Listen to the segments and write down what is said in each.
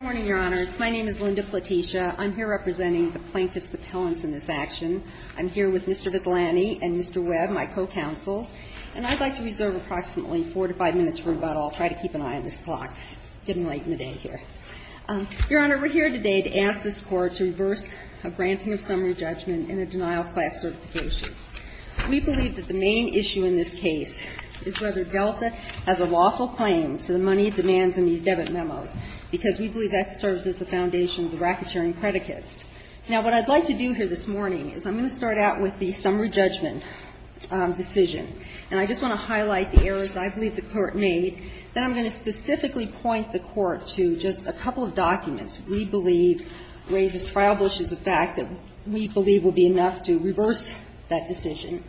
Good morning, Your Honors. My name is Linda Platicia. I'm here representing the plaintiff's appellants in this action. I'm here with Mr. Vigliani and Mr. Webb, my co-counsels. And I'd like to reserve approximately four to five minutes for rebuttal. I'll try to keep an eye on this clock. It's getting late in the day here. Your Honor, we're here today to ask this Court to reverse a granting of summary judgment and a denial of class certification. We believe that the main issue in this case is whether Delta has a lawful claim to the money demands in these debit memos, because we believe that serves as the foundation of the racketeering predicates. Now, what I'd like to do here this morning is I'm going to start out with the summary judgment decision. And I just want to highlight the errors I believe the Court made. Then I'm going to specifically point the Court to just a couple of documents we believe raise as triable issues the fact that we believe will be enough to reverse that decision.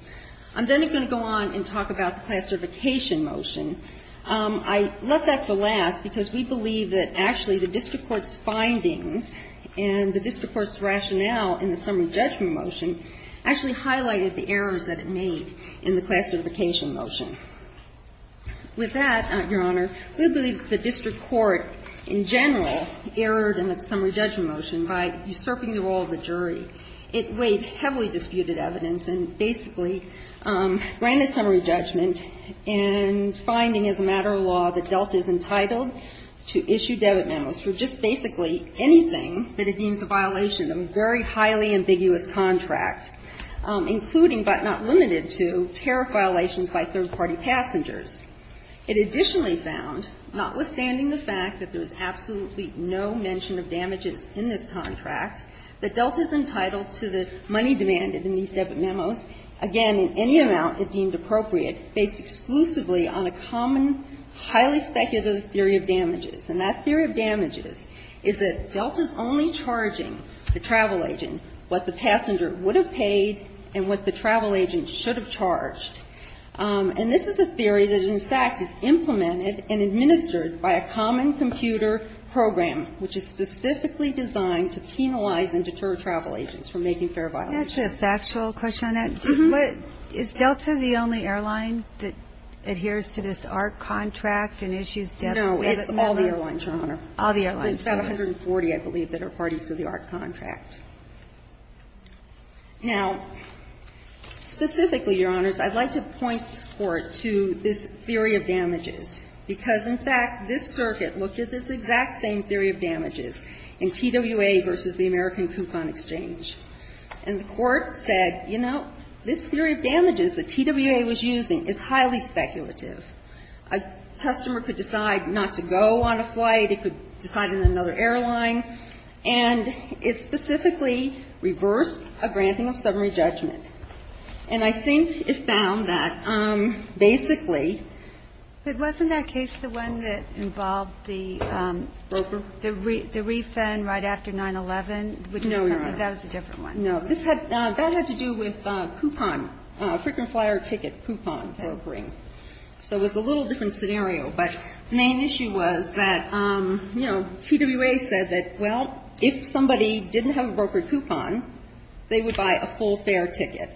I'm then going to go on and talk about the class certification motion. I left that for last because we believe that actually the district court's findings and the district court's rationale in the summary judgment motion actually highlighted the errors that it made in the class certification motion. With that, Your Honor, we believe that the district court in general erred in the summary judgment motion by usurping the role of the jury. It weighed heavily disputed evidence and basically granted summary judgment and finding as a matter of law that Delta is entitled to issue debit memos for just basically anything that it deems a violation of a very highly ambiguous contract, including but not limited to tariff violations by third-party passengers. It additionally found, notwithstanding the fact that there was absolutely no mention of damages in this contract, that Delta is entitled to the money demanded in these debit memos, again, in any amount it deemed appropriate, based exclusively on a common, highly speculative theory of damages. And that theory of damages is that Delta's only charging the travel agent what the passenger would have paid and what the travel agent should have charged. And this is a theory that, in fact, is implemented and administered by a common computer program, which is specifically designed to penalize and deter travel agents from making fare violations. That's a factual question on that. Is Delta the only airline that adheres to this ARC contract and issues debit memos? No, it's all the airlines, Your Honor. All the airlines. There's about 140, I believe, that are parties to the ARC contract. Now, specifically, Your Honors, I'd like to point to this theory of damages, because, in fact, this circuit looked at this exact same theory of damages in TWA v. the American Coupon Exchange. And the Court said, you know, this theory of damages that TWA was using is highly speculative. A customer could decide not to go on a flight, it could decide on another airline, and it specifically reversed a granting of summary judgment. And I think it found that, basically ---- But wasn't that case the one that involved the refund right after 9-11? No, Your Honor. That was a different one. No. This had ---- that had to do with coupon, frequent flyer ticket coupon brokering. So it was a little different scenario. But the main issue was that, you know, TWA said that, well, if somebody didn't have a brokered coupon, they would buy a full fare ticket.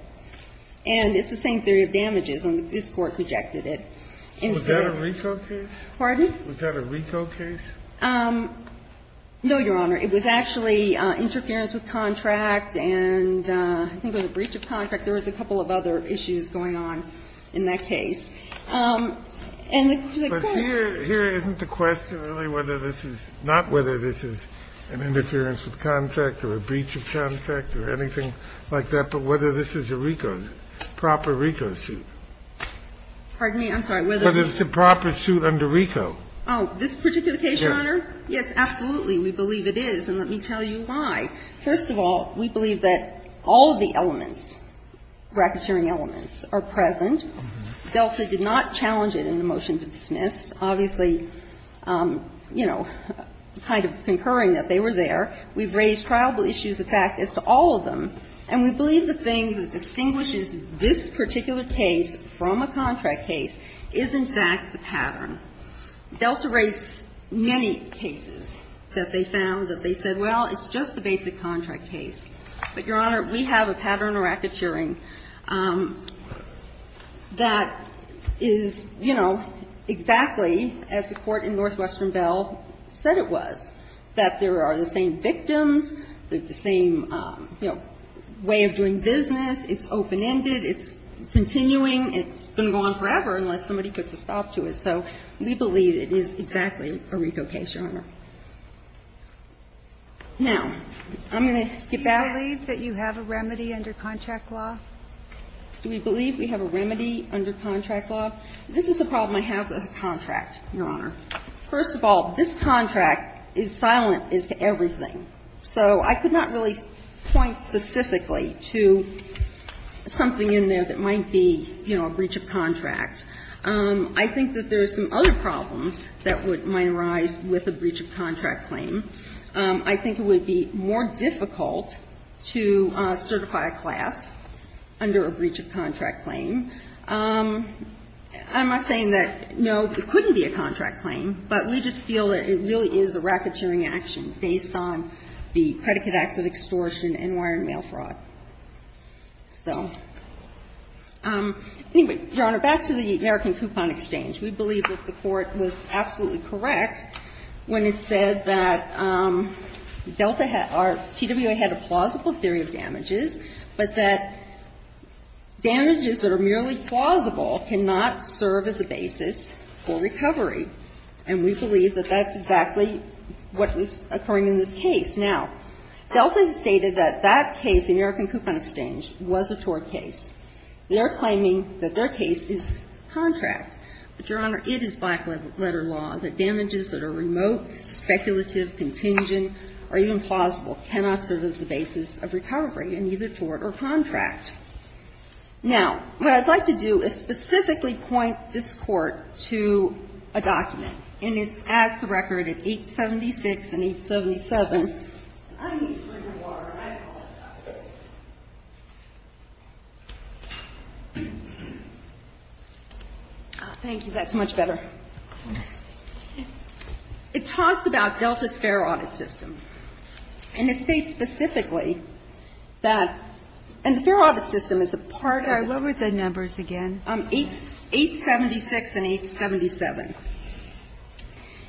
And it's the same theory of damages, and this Court rejected it. Was that a RICO case? Pardon? Was that a RICO case? No, Your Honor. It was actually interference with contract and I think it was a breach of contract. There was a couple of other issues going on in that case. And the Court ---- But here isn't the question really whether this is not whether this is an interference with contract or a breach of contract or anything like that, but whether this is a RICO, proper RICO suit. Pardon me? I'm sorry. Whether it's a proper suit under RICO. Oh, this particular case, Your Honor? Yes, absolutely. We believe it is, and let me tell you why. First of all, we believe that all of the elements, racketeering elements, are present. Delta did not challenge it in the motion to dismiss. Obviously, you know, kind of concurring that they were there. We've raised triable issues. The fact is to all of them. And we believe the thing that distinguishes this particular case from a contract case is, in fact, the pattern. Delta raised many cases that they found that they said, well, it's just a basic contract case. But, Your Honor, we have a pattern of racketeering that is, you know, exactly as the Court in Northwestern Bell said it was, that there are the same victims, the same, you know, way of doing business, it's open-ended, it's continuing, it's going to go on forever unless somebody puts a stop to it. So we believe it is exactly a RICO case, Your Honor. Now, I'm going to get back to you. Do you believe that you have a remedy under contract law? Do we believe we have a remedy under contract law? This is a problem I have with a contract, Your Honor. First of all, this contract is silent as to everything. So I could not really point specifically to something in there that might be, you know, a breach of contract. I think that there are some other problems that might arise with a breach of contract claim. I think it would be more difficult to certify a class under a breach of contract claim. I'm not saying that, no, it couldn't be a contract claim, but we just feel that it really is a racketeering action based on the predicate acts of extortion and wire and mail fraud. So, anyway, Your Honor, back to the American Coupon Exchange. We believe that the Court was absolutely correct when it said that Delta had or TWA had a plausible theory of damages, but that damages that are merely plausible cannot serve as a basis for recovery. And we believe that that's exactly what was occurring in this case. Now, Delta stated that that case, the American Coupon Exchange, was a tort case. They are claiming that their case is contract. But, Your Honor, it is black-letter law that damages that are remote, speculative, contingent, or even plausible cannot serve as a basis of recovery in either tort or contract. Now, what I'd like to do is specifically point this Court to a document, and it's at the record at 876 and 877. I need to drink some water, and I apologize. Thank you. That's much better. It talks about Delta's fair audit system. And it states specifically that the fair audit system is a part of the ---- What were the numbers again? 876 and 877.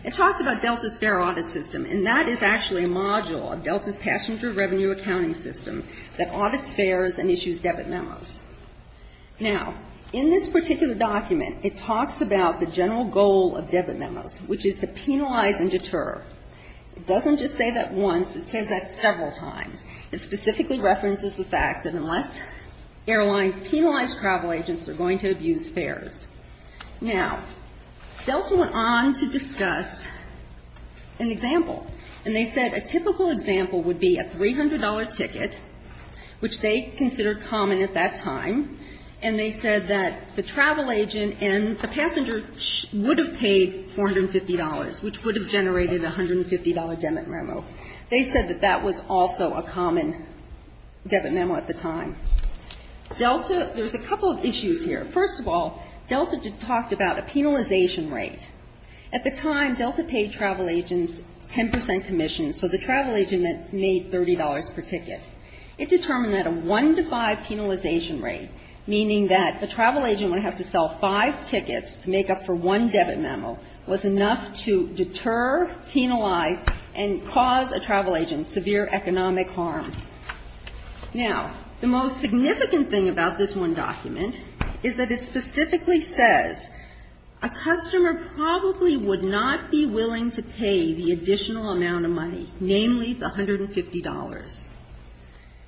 It talks about Delta's fair audit system, and that is actually a module of Delta's passenger revenue accounting system that audits fares and issues debit memos. Now, in this particular document, it talks about the general goal of debit memos, which is to penalize and deter. It doesn't just say that once. It says that several times. It specifically references the fact that unless airlines penalize travel agents, they're going to abuse fares. Now, Delta went on to discuss an example, and they said a typical example would be a $300 ticket, which they considered common at that time, and they said that the travel agent and the passenger would have paid $450, which would have generated a $150 debit memo. They said that that was also a common debit memo at the time. Delta ---- there's a couple of issues here. First of all, Delta talked about a penalization rate. At the time, Delta paid travel agents 10 percent commission, so the travel agent made $30 per ticket. It determined that a 1 to 5 penalization rate, meaning that the travel agent would have to sell five tickets to make up for one debit memo, was enough to deter, penalize, and cause a travel agent severe economic harm. Now, the most significant thing about this one document is that it specifically says a customer probably would not be willing to pay the additional amount of money, namely the $150.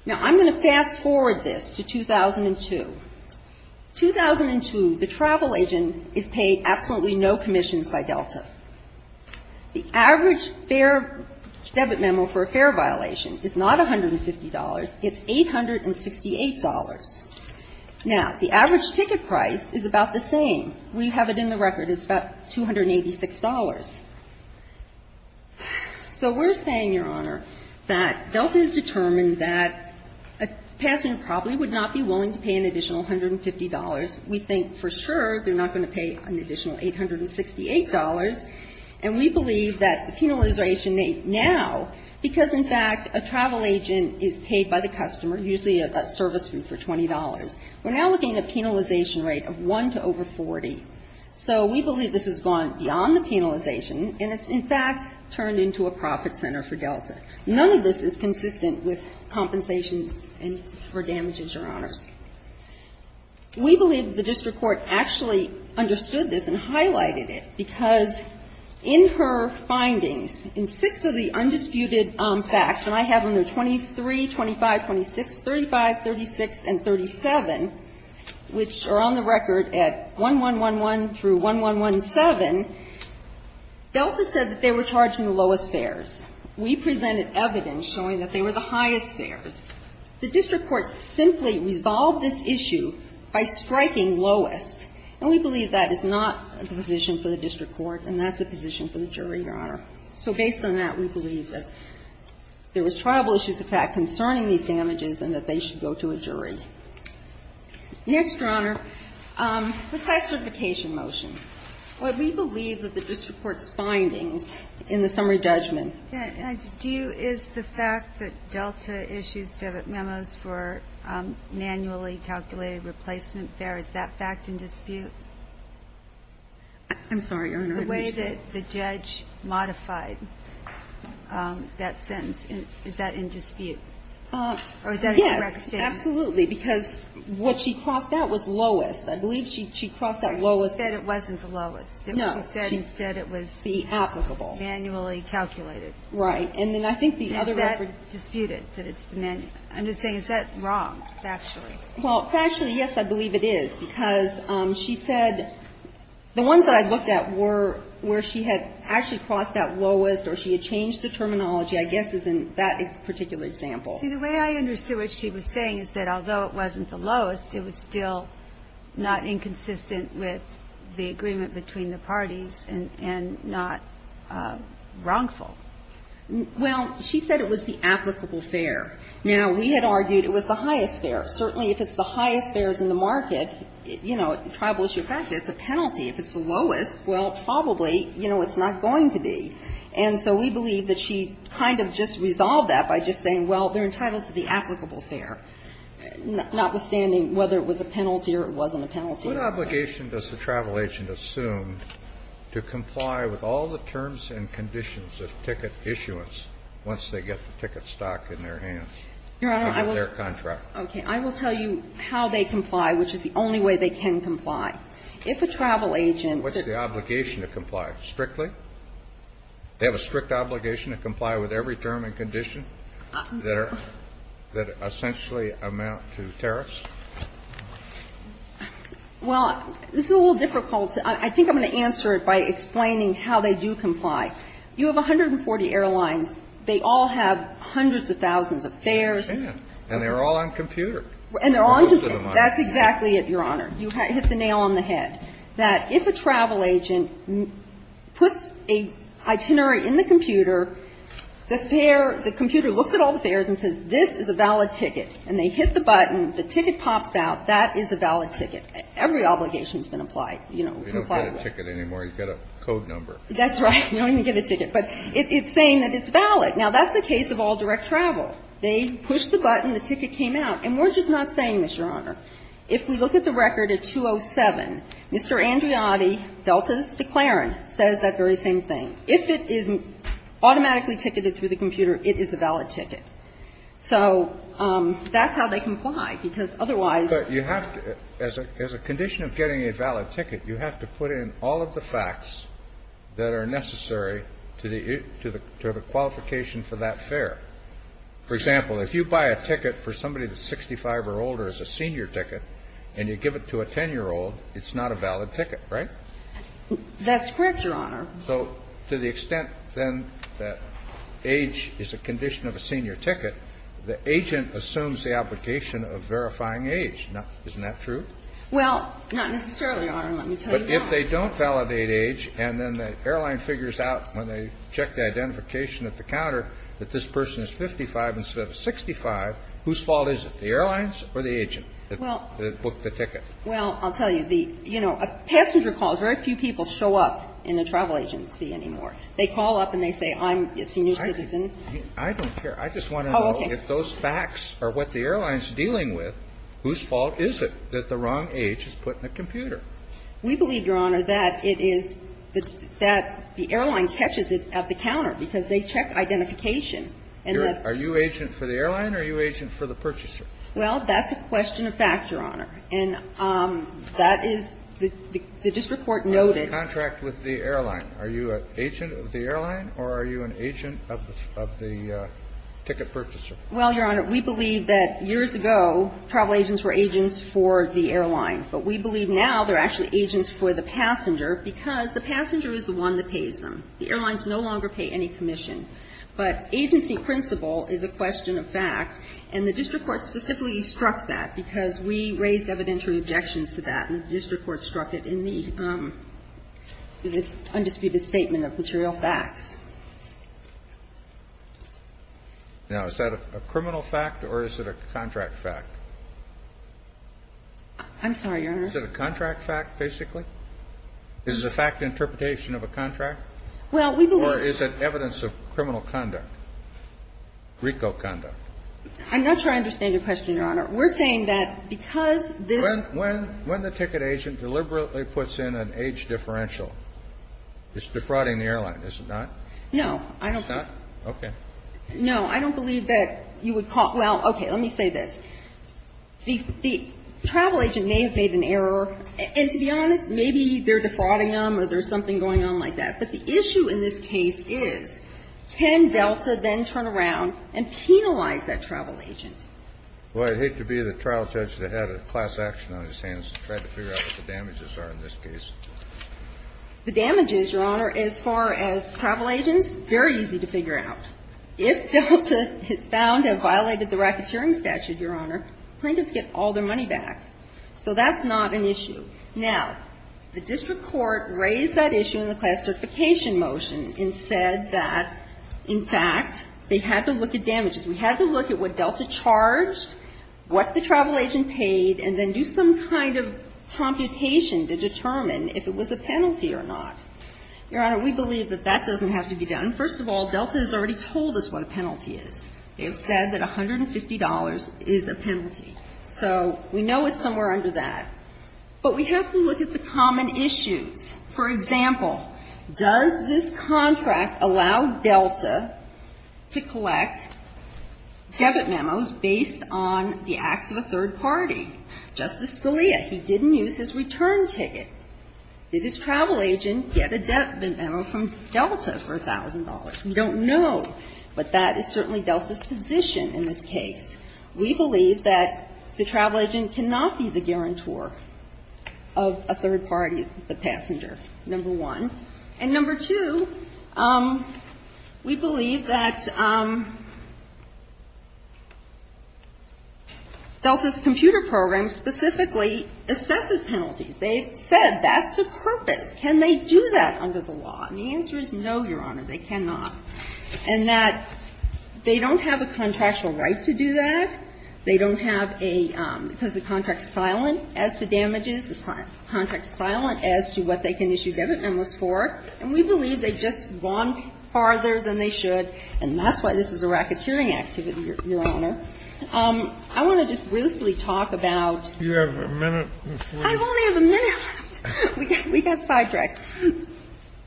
Now, I'm going to fast-forward this to 2002. 2002, the travel agent is paid absolutely no commissions by Delta. The average fare debit memo for a fare violation is not $150. It's $868. Now, the average ticket price is about the same. We have it in the record. It's about $286. So we're saying, Your Honor, that Delta has determined that a passenger probably would not be willing to pay an additional $150. We think for sure they're not going to pay an additional $868, and we believe that the penalization rate now, because, in fact, a travel agent is paid by the customer, usually a service fee for $20. We're now looking at a penalization rate of 1 to over 40. So we believe this has gone beyond the penalization, and it's, in fact, turned into a profit center for Delta. None of this is consistent with compensation for damages, Your Honors. We believe the district court actually understood this and highlighted it, because in her findings, in six of the undisputed facts, and I have them, they're 23, 25, 26, 35, 36 and 37, which are on the record at 1111 through 1117, Delta said that they were charged in the lowest fares. We presented evidence showing that they were the highest fares. The district court simply resolved this issue by striking lowest, and we believe that is not a position for the district court, and that's a position for the jury, Your Honor. So based on that, we believe that there was tribal issues, in fact, concerning these damages and that they should go to a jury. Next, Your Honor, the class certification motion. We believe that the district court's findings in the summary judgment. Do you, is the fact that Delta issues debit memos for manually calculated replacement fares, is that fact in dispute? I'm sorry, Your Honor, I didn't hear you. The way that the judge modified that sentence, is that in dispute? Or is that a correct statement? Yes, absolutely, because what she crossed out was lowest. I believe she crossed out lowest. She said it wasn't the lowest. No. She said it was. The applicable. Manually calculated. Right. And then I think the other record. Is that disputed? I'm just saying, is that wrong, factually? Well, factually, yes, I believe it is, because she said the ones that I looked at were where she had actually crossed out lowest or she had changed the terminology, I guess is in that particular example. See, the way I understood what she was saying is that although it wasn't the lowest, it was still not inconsistent with the agreement between the parties and not wrongful. Well, she said it was the applicable fare. Now, we had argued it was the highest fare. Certainly, if it's the highest fares in the market, you know, tribal issue, it's a penalty. If it's the lowest, well, probably, you know, it's not going to be. And so we believe that she kind of just resolved that by just saying, well, they're entitled to the applicable fare. Notwithstanding whether it was a penalty or it wasn't a penalty. What obligation does the travel agent assume to comply with all the terms and conditions of ticket issuance once they get the ticket stock in their hands? Your Honor, I will tell you how they comply, which is the only way they can comply. If a travel agent What's the obligation to comply? Strictly? They have a strict obligation to comply with every term and condition that are – that essentially amount to tariffs? Well, this is a little difficult. I think I'm going to answer it by explaining how they do comply. You have 140 airlines. They all have hundreds of thousands of fares. And they're all on computer. And they're on computer. That's exactly it, Your Honor. You hit the nail on the head, that if a travel agent puts a itinerary in the computer, the fare – the computer looks at all the fares and says, this is a valid ticket. And they hit the button, the ticket pops out, that is a valid ticket. Every obligation has been applied, you know, complied with. You don't get a ticket anymore. You get a code number. That's right. You don't even get a ticket. But it's saying that it's valid. Now, that's the case of all direct travel. They push the button, the ticket came out. And we're just not saying, Mr. Honor, if we look at the record at 207, Mr. Andreotti, Delta's declarant, says that very same thing. If it is automatically ticketed through the computer, it is a valid ticket. So that's how they comply, because otherwise – But you have to – as a condition of getting a valid ticket, you have to put in all of the facts that are necessary to the – to the qualification for that fare. For example, if you buy a ticket for somebody that's 65 or older as a senior ticket and you give it to a 10-year-old, it's not a valid ticket, right? That's correct, Your Honor. So to the extent, then, that age is a condition of a senior ticket, the agent assumes the obligation of verifying age. Now, isn't that true? Well, not necessarily, Your Honor. Let me tell you now. But if they don't validate age and then the airline figures out when they check the identification at the counter that this person is 55 instead of 65, whose fault is it, the airlines or the agent that booked the ticket? Well, I'll tell you. The – you know, passenger calls, very few people show up in a travel agency anymore. They call up and they say, I'm a senior citizen. I don't care. I just want to know if those facts are what the airline is dealing with, whose fault is it that the wrong age is put in the computer? We believe, Your Honor, that it is – that the airline catches it at the counter because they check identification. Are you agent for the airline or are you agent for the purchaser? Well, that's a question of fact, Your Honor. And that is – the district court noted – Contract with the airline. Are you an agent of the airline or are you an agent of the ticket purchaser? Well, Your Honor, we believe that years ago, travel agents were agents for the airline. But we believe now they're actually agents for the passenger because the passenger is the one that pays them. The airlines no longer pay any commission. But agency principle is a question of fact, and the district court specifically struck that because we raised evidentiary objections to that, and the district court struck it in the – in this undisputed statement of material facts. Now, is that a criminal fact or is it a contract fact? I'm sorry, Your Honor. Is it a contract fact, basically? Is it a fact interpretation of a contract? Well, we believe – Or is it evidence of criminal conduct, RICO conduct? I'm not sure I understand your question, Your Honor. We're saying that because this – When the ticket agent deliberately puts in an age differential, it's defrauding the airline, is it not? No. I don't believe – It's not? Okay. No. I don't believe that you would call – well, okay, let me say this. The travel agent may have made an error, and to be honest, maybe they're defrauding them or there's something going on like that. But the issue in this case is, can Delta then turn around and penalize that travel agent? Well, I'd hate to be the trial judge that had a class action on his hands to try to figure out what the damages are in this case. The damages, Your Honor, as far as travel agents, very easy to figure out. If Delta is found to have violated the racketeering statute, Your Honor, plaintiffs get all their money back. So that's not an issue. Now, the district court raised that issue in the class certification motion and said that, in fact, they had to look at damages. We had to look at what Delta charged, what the travel agent paid, and then do some kind of computation to determine if it was a penalty or not. Your Honor, we believe that that doesn't have to be done. First of all, Delta has already told us what a penalty is. They have said that $150 is a penalty. So we know it's somewhere under that. But we have to look at the common issues. For example, does this contract allow Delta to collect debit memos based on the acts of a third party? Justice Scalia, he didn't use his return ticket. Did his travel agent get a debit memo from Delta for $1,000? We don't know. But that is certainly Delta's position in this case. We believe that the travel agent cannot be the guarantor of a third party, the passenger, number one. And number two, we believe that Delta's computer program specifically assesses penalties. They said that's the purpose. Can they do that under the law? And the answer is no, Your Honor. They cannot. And that they don't have a contractual right to do that. They don't have a – because the contract's silent as to damages, the contract's silent as to what they can issue debit memos for. And we believe they've just gone farther than they should, and that's why this is a racketeering activity, Your Honor. I want to just briefly talk about – You have a minute before you – I only have a minute left. We got sidetracked.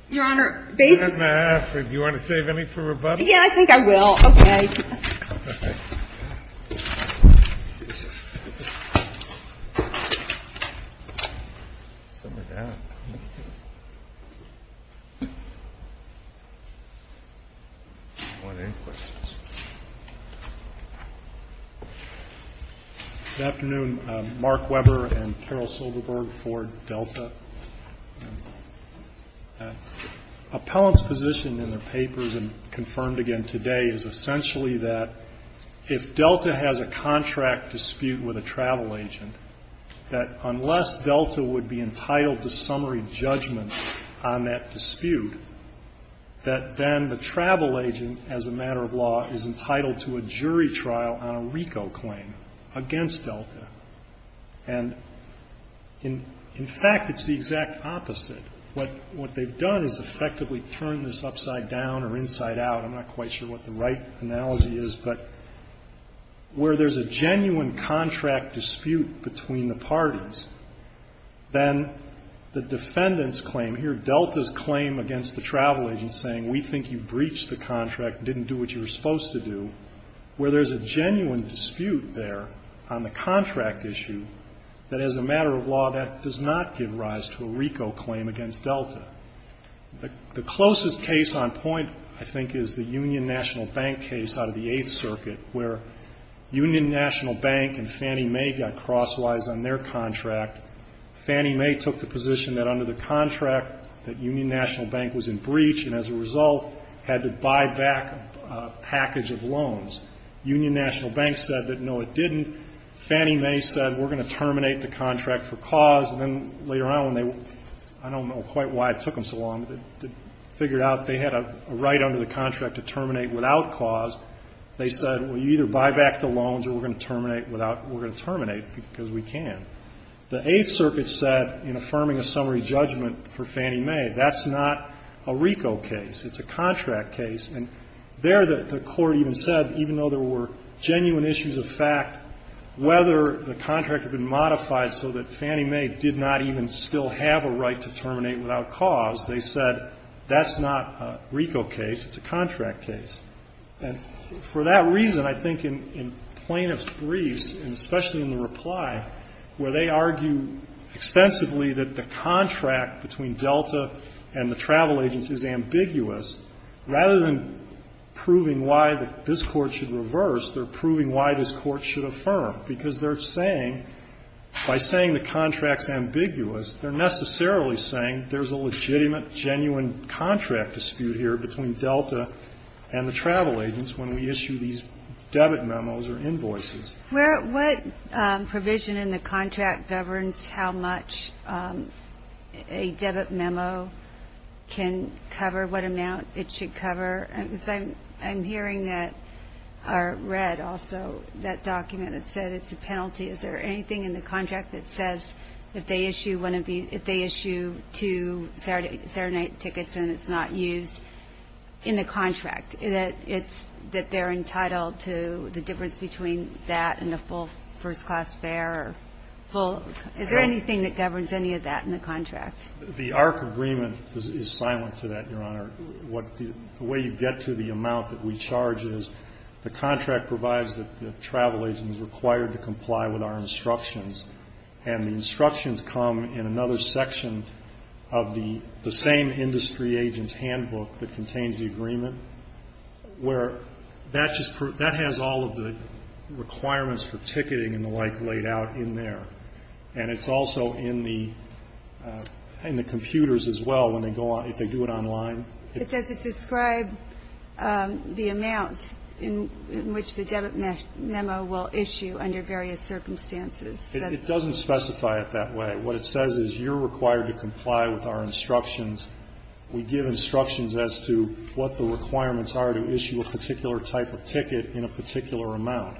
Your Honor, basically – Do you have any further rebuttals? Yeah, I think I will. Okay. All right. Good afternoon. Mark Weber and Carol Silverberg for Delta. Appellant's position in their papers and confirmed again today is essentially that if Delta has a contract dispute with a travel agent, that unless Delta would be entitled to summary judgment on that dispute, that then the travel agent, as a matter of law, is entitled to a jury trial on a RICO claim against Delta. And in fact, it's the exact opposite. What they've done is effectively turned this upside down or inside out. I'm not quite sure what the right analogy is, but where there's a genuine contract dispute between the parties, then the defendant's claim here, Delta's claim against the travel agent saying, we think you breached the contract, didn't do what you were on the contract issue, that, as a matter of law, that does not give rise to a RICO claim against Delta. The closest case on point, I think, is the Union National Bank case out of the Eighth Circuit, where Union National Bank and Fannie Mae got crosswise on their contract. Fannie Mae took the position that under the contract that Union National Bank was in breach and, as a result, had to buy back a package of loans. Union National Bank said that, no, it didn't. Fannie Mae said, we're going to terminate the contract for cause. And then later on, I don't know quite why it took them so long, but they figured out they had a right under the contract to terminate without cause. They said, well, you either buy back the loans or we're going to terminate because we can. The Eighth Circuit said, in affirming a summary judgment for Fannie Mae, that's not a RICO case. It's a contract case. And there, the Court even said, even though there were genuine issues of fact, whether the contract had been modified so that Fannie Mae did not even still have a right to terminate without cause, they said, that's not a RICO case. It's a contract case. And for that reason, I think in plaintiff's briefs, and especially in the reply, where they argue extensively that the contract between Delta and the travel agency is ambiguous, rather than proving why this Court should reverse, they're proving why this Court should affirm, because they're saying, by saying the contract's ambiguous, they're necessarily saying there's a legitimate, genuine contract dispute here between Delta and the travel agency when we issue these debit memos or invoices. What provision in the contract governs how much a debit memo can cover, what amount it should cover? Because I'm hearing that, or read also, that document that said it's a penalty. Is there anything in the contract that says if they issue two Saturday night tickets and it's not used in the contract, that they're entitled to the difference between that and a full first-class fare or full? Is there anything that governs any of that in the contract? The ARC agreement is silent to that, Your Honor. The way you get to the amount that we charge is the contract provides that the travel agency is required to comply with our instructions, and the instructions come in another section of the same industry agent's handbook that contains the agreement, where that has all of the requirements for ticketing and the like laid out in there. And it's also in the computers as well if they do it online. But does it describe the amount in which the debit memo will issue under various circumstances? It doesn't specify it that way. What it says is you're required to comply with our instructions. We give instructions as to what the requirements are to issue a particular type of ticket in a particular amount.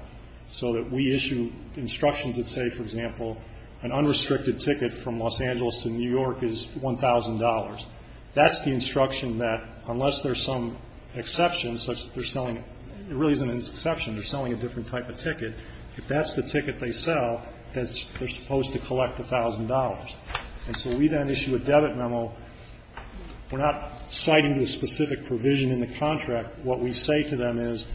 So that we issue instructions that say, for example, an unrestricted ticket from Los Angeles to New York is $1,000. That's the instruction that unless there's some exception such that they're selling It really isn't an exception. They're selling a different type of ticket. If that's the ticket they sell, they're supposed to collect $1,000. And so we then issue a debit memo. We're not citing the specific provision in the contract. What we say to them is,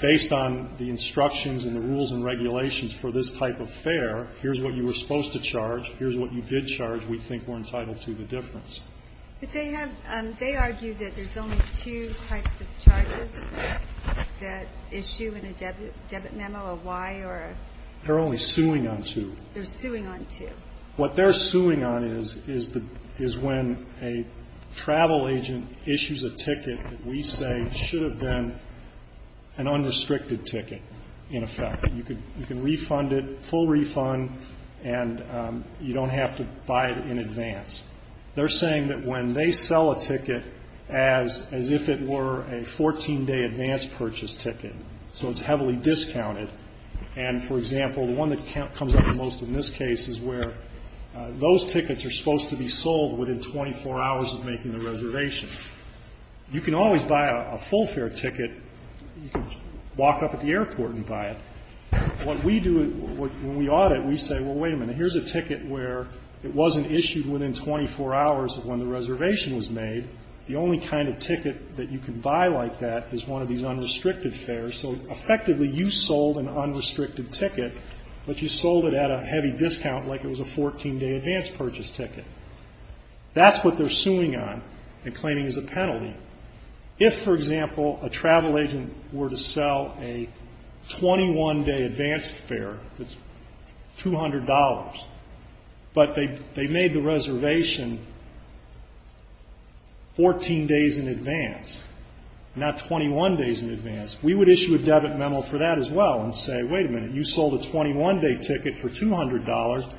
based on the instructions and the rules and regulations for this type of fare, here's what you were supposed to charge. Here's what you did charge. We think we're entitled to the difference. But they have they argue that there's only two types of charges that issue in a debit memo, a Y or a? They're only suing on two. They're suing on two. What they're suing on is when a travel agent issues a ticket that we say should have been an unrestricted ticket, in effect. You can refund it, full refund, and you don't have to buy it in advance. They're saying that when they sell a ticket as if it were a 14-day advance purchase ticket, so it's heavily discounted, and, for example, the one that comes up the most in this case is where those tickets are supposed to be sold within 24 hours of making the reservation. You can always buy a full fare ticket. You can walk up at the airport and buy it. What we do when we audit, we say, well, wait a minute, here's a ticket where it wasn't issued within 24 hours of when the reservation was made. The only kind of ticket that you can buy like that is one of these unrestricted you sold an unrestricted ticket, but you sold it at a heavy discount like it was a 14-day advance purchase ticket. That's what they're suing on and claiming as a penalty. If, for example, a travel agent were to sell a 21-day advance fare that's $200, but they made the reservation 14 days in advance, not 21 days in advance, we would issue a debit memo for that as well and say, wait a minute, you sold a 21-day ticket for $200.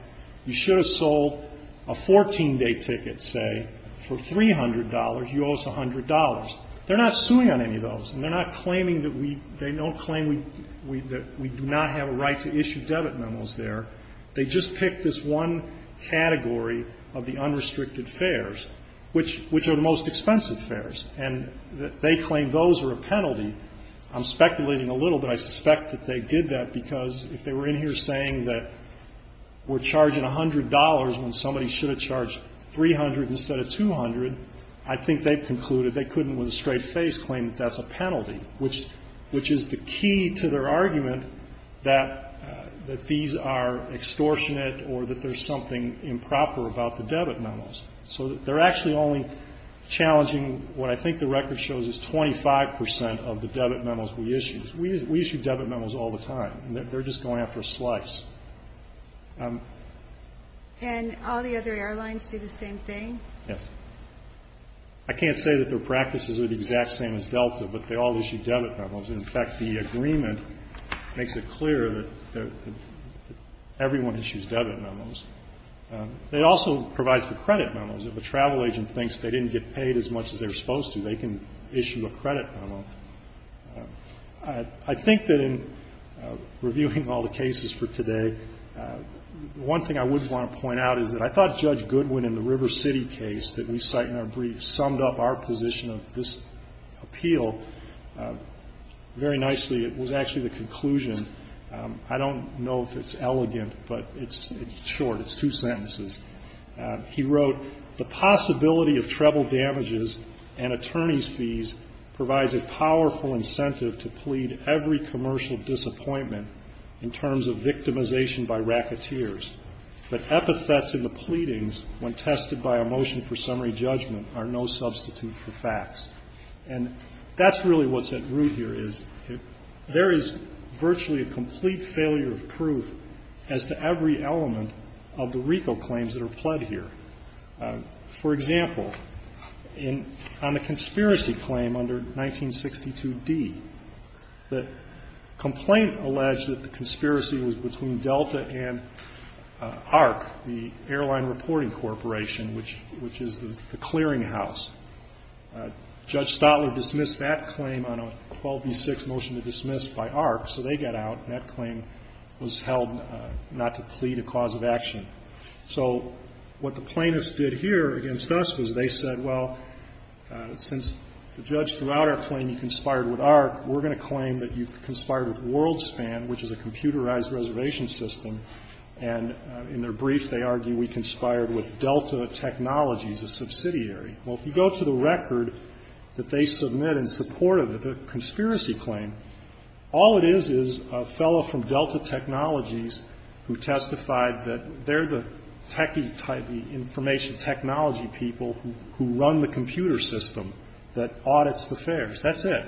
You should have sold a 14-day ticket, say, for $300. You owe us $100. They're not suing on any of those, and they're not claiming that we do not have a right to issue debit memos there. They just pick this one category of the unrestricted fares, which are the most expensive fares, and they claim those are a penalty. I'm speculating a little, but I suspect that they did that because if they were in here saying that we're charging $100 when somebody should have charged $300 instead of $200, I think they've concluded they couldn't with a straight face claim that that's a penalty, which is the key to their argument that these are extortionate or that there's something improper about the debit memos. So they're actually only challenging what I think the record shows is 25% of the debit memos we issue. We issue debit memos all the time. They're just going after a slice. And all the other airlines do the same thing? Yes. I can't say that their practices are the exact same as Delta, but they all issue debit memos. In fact, the agreement makes it clear that everyone issues debit memos. It also provides for credit memos. If a travel agent thinks they didn't get paid as much as they were supposed to, they can issue a credit memo. I think that in reviewing all the cases for today, one thing I would want to point out is that I thought Judge Goodwin in the River City case that we cite in our brief summed up our position of this appeal very nicely. It was actually the conclusion. I don't know if it's elegant, but it's short. It's two sentences. He wrote, The possibility of treble damages and attorney's fees provides a powerful incentive to plead every commercial disappointment in terms of victimization by racketeers. But epithets in the pleadings when tested by a motion for summary judgment are no substitute for facts. And that's really what's at root here, is there is virtually a complete failure of proof as to every element of the RICO claims that are pled here. For example, on the conspiracy claim under 1962D, the complaint alleged that the conspiracy was between Delta and ARC, the Airline Reporting Corporation, which is the clearinghouse. Judge Stotler dismissed that claim on a 12B6 motion to dismiss by ARC, so they got out, and that claim was held not to plead a cause of action. So what the plaintiffs did here against us was they said, well, since the judge threw out our claim you conspired with ARC, we're going to claim that you conspired with WorldSpan, which is a computerized reservation system. And in their briefs they argue we conspired with Delta Technologies, a subsidiary. Well, if you go to the record that they submit in support of the conspiracy claim, all it is is a fellow from Delta Technologies who testified that they're the techie type, the information technology people who run the computer system that audits the fares. That's it.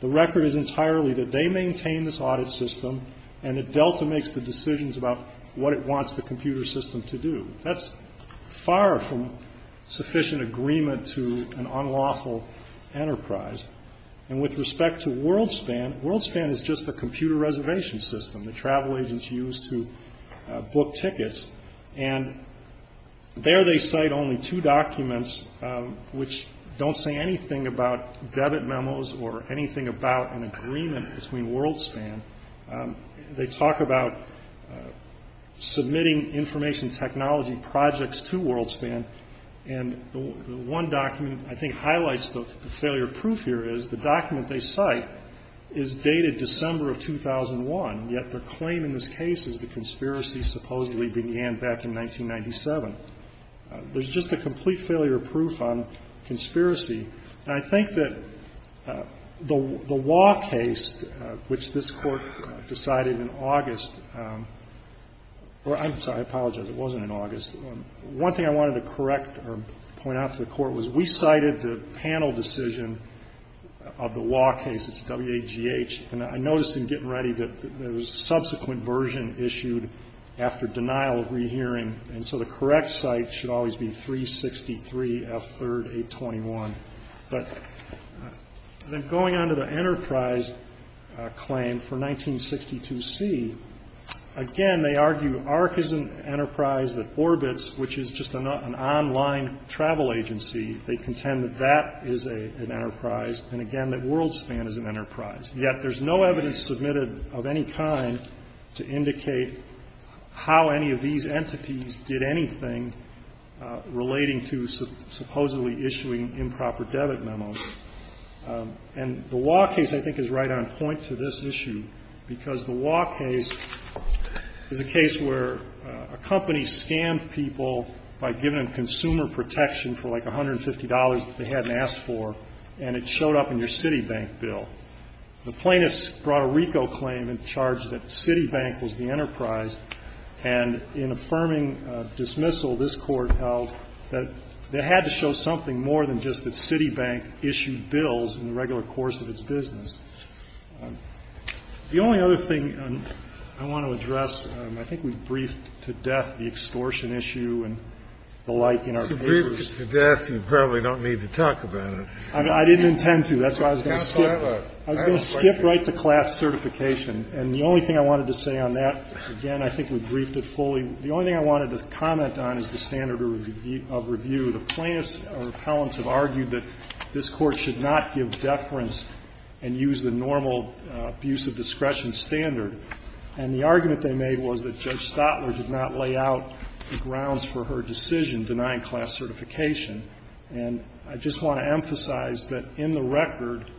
The record is entirely that they maintain this audit system and that Delta makes the decisions about what it wants the computer system to do. That's far from sufficient agreement to an unlawful enterprise. And with respect to WorldSpan, WorldSpan is just a computer reservation system that travel agents use to book tickets. And there they cite only two documents which don't say anything about debit memos or anything about an agreement between WorldSpan. They talk about submitting information technology projects to WorldSpan. And the one document I think highlights the failure of proof here is the document they cite is dated December of 2001, yet their claim in this case is the conspiracy supposedly began back in 1997. There's just a complete failure of proof on conspiracy. And I think that the law case, which this Court decided in August or I'm sorry, I apologize, it wasn't in August. One thing I wanted to correct or point out to the Court was we cited the panel decision of the law case, it's WAGH, and I noticed in getting ready that there was a subsequent version issued after denial of rehearing. And so the correct site should always be 363F3-821. But then going on to the enterprise claim for 1962C, again, they argue AHRQ is an enterprise that orbits, which is just an online travel agency. They contend that that is an enterprise and, again, that WorldSpan is an enterprise. Yet there's no evidence submitted of any kind to indicate how any of these entities did anything relating to supposedly issuing improper debit memos. And the WAGH case, I think, is right on point to this issue because the WAGH case is a case where a company scammed people by giving them consumer protection for like $150 that they hadn't asked for, and it showed up in your Citibank bill. The plaintiffs brought a RICO claim and charged that Citibank was the enterprise. And in affirming dismissal, this Court held that it had to show something more than just that Citibank issued bills in the regular course of its business. The only other thing I want to address, I think we've briefed to death the extortion issue and the like in our papers. Scalia, I didn't intend to. That's why I was going to skip. I was going to skip right to class certification. And the only thing I wanted to say on that, again, I think we've briefed it fully. The only thing I wanted to comment on is the standard of review. The plaintiffs or appellants have argued that this Court should not give deference and use the normal abuse of discretion standard. And the argument they made was that Judge Stotler did not lay out the grounds for her decision denying class certification. And I just want to emphasize that in the record,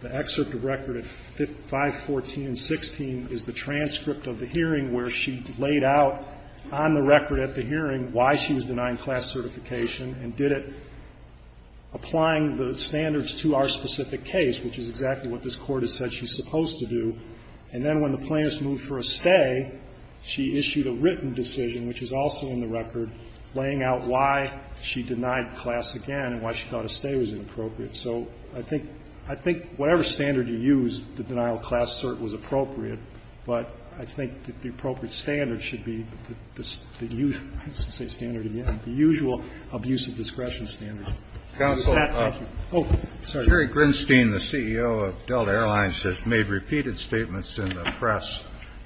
the excerpt of record at 514 and 16 is the transcript of the hearing where she laid out on the record at the hearing why she was denying class certification and did it applying the standards to our specific case, which is exactly what this Court has said she's supposed to do. And then when the plaintiffs moved for a stay, she issued a written decision, which is also in the record, laying out why she denied class again and why she thought a stay was inappropriate. So I think whatever standard you use, the denial of class cert was appropriate, but I think that the appropriate standard should be the usual standard again, the usual abuse of discretion standard. Counsel. Oh, sorry. Jerry Grinstein, the CEO of Delta Airlines, has made repeated statements in the press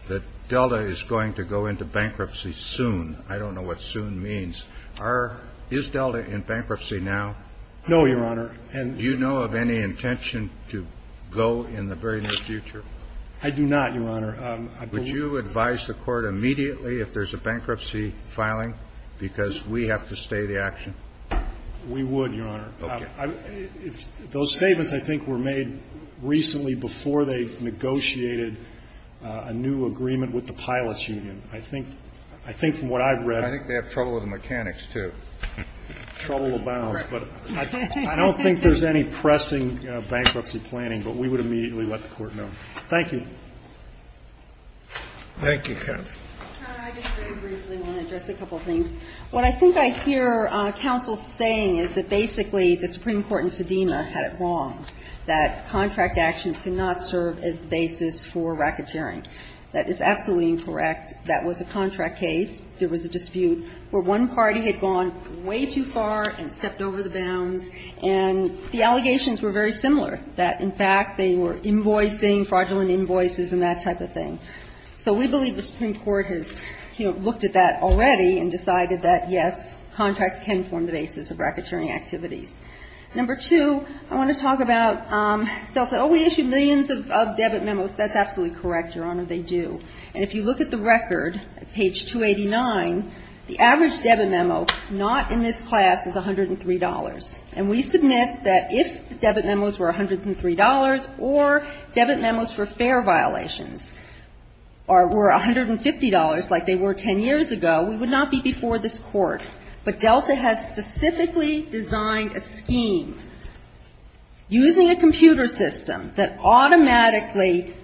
that Delta is going to go into bankruptcy soon. I don't know what soon means. Is Delta in bankruptcy now? No, Your Honor. And do you know of any intention to go in the very near future? I do not, Your Honor. Would you advise the Court immediately if there's a bankruptcy filing, because we have to stay the action? We would, Your Honor. Okay. Those statements, I think, were made recently before they negotiated a new agreement with the pilots union. I think from what I've read. I think they have trouble with the mechanics, too. Trouble of balance. But I don't think there's any pressing bankruptcy planning, but we would immediately let the Court know. Thank you. Thank you, counsel. Your Honor, I just very briefly want to address a couple of things. What I think I hear counsel saying is that basically the Supreme Court in Sedema had it wrong, that contract actions cannot serve as the basis for racketeering. That is absolutely incorrect. That was a contract case. There was a dispute where one party had gone way too far and stepped over the bounds, and the allegations were very similar, that, in fact, they were invoicing, fraudulent invoices and that type of thing. So we believe the Supreme Court has, you know, looked at that already and decided that, yes, contracts can form the basis of racketeering activities. Number two, I want to talk about they'll say, oh, we issued millions of debit memos. That's absolutely correct, Your Honor. They do. And if you look at the record, page 289, the average debit memo not in this class is $103. And we submit that if the debit memos were $103 or debit memos for fare violations, or were $150 like they were 10 years ago, we would not be before this Court. But Delta has specifically designed a scheme using a computer system that automatically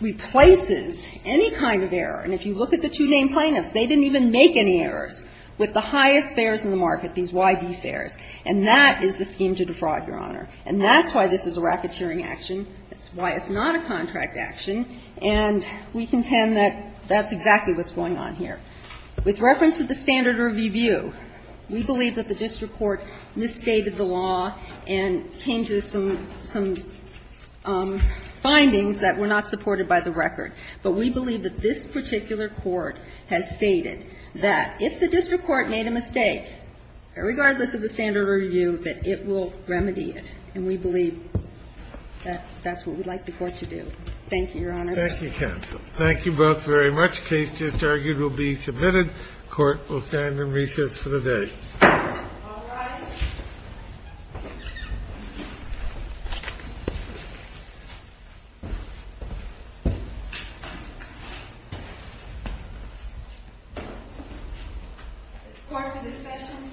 replaces any kind of error. And if you look at the two named plaintiffs, they didn't even make any errors with the highest fares in the market, these YB fares. And that is the scheme to defraud, Your Honor. And that's why this is a racketeering action. That's why it's not a contract action. And we contend that that's exactly what's going on here. With reference to the standard review, we believe that the district court misstated the law and came to some findings that were not supported by the record. But we believe that this particular court has stated that if the district court made a mistake, regardless of the standard review, that it will remedy it. And we believe that that's what we'd like the Court to do. Thank you, Your Honor. Thank you, counsel. Thank you both very much. The case just argued will be submitted. The Court will stand in recess for the day. All rise. The Court will be in session and adjourned.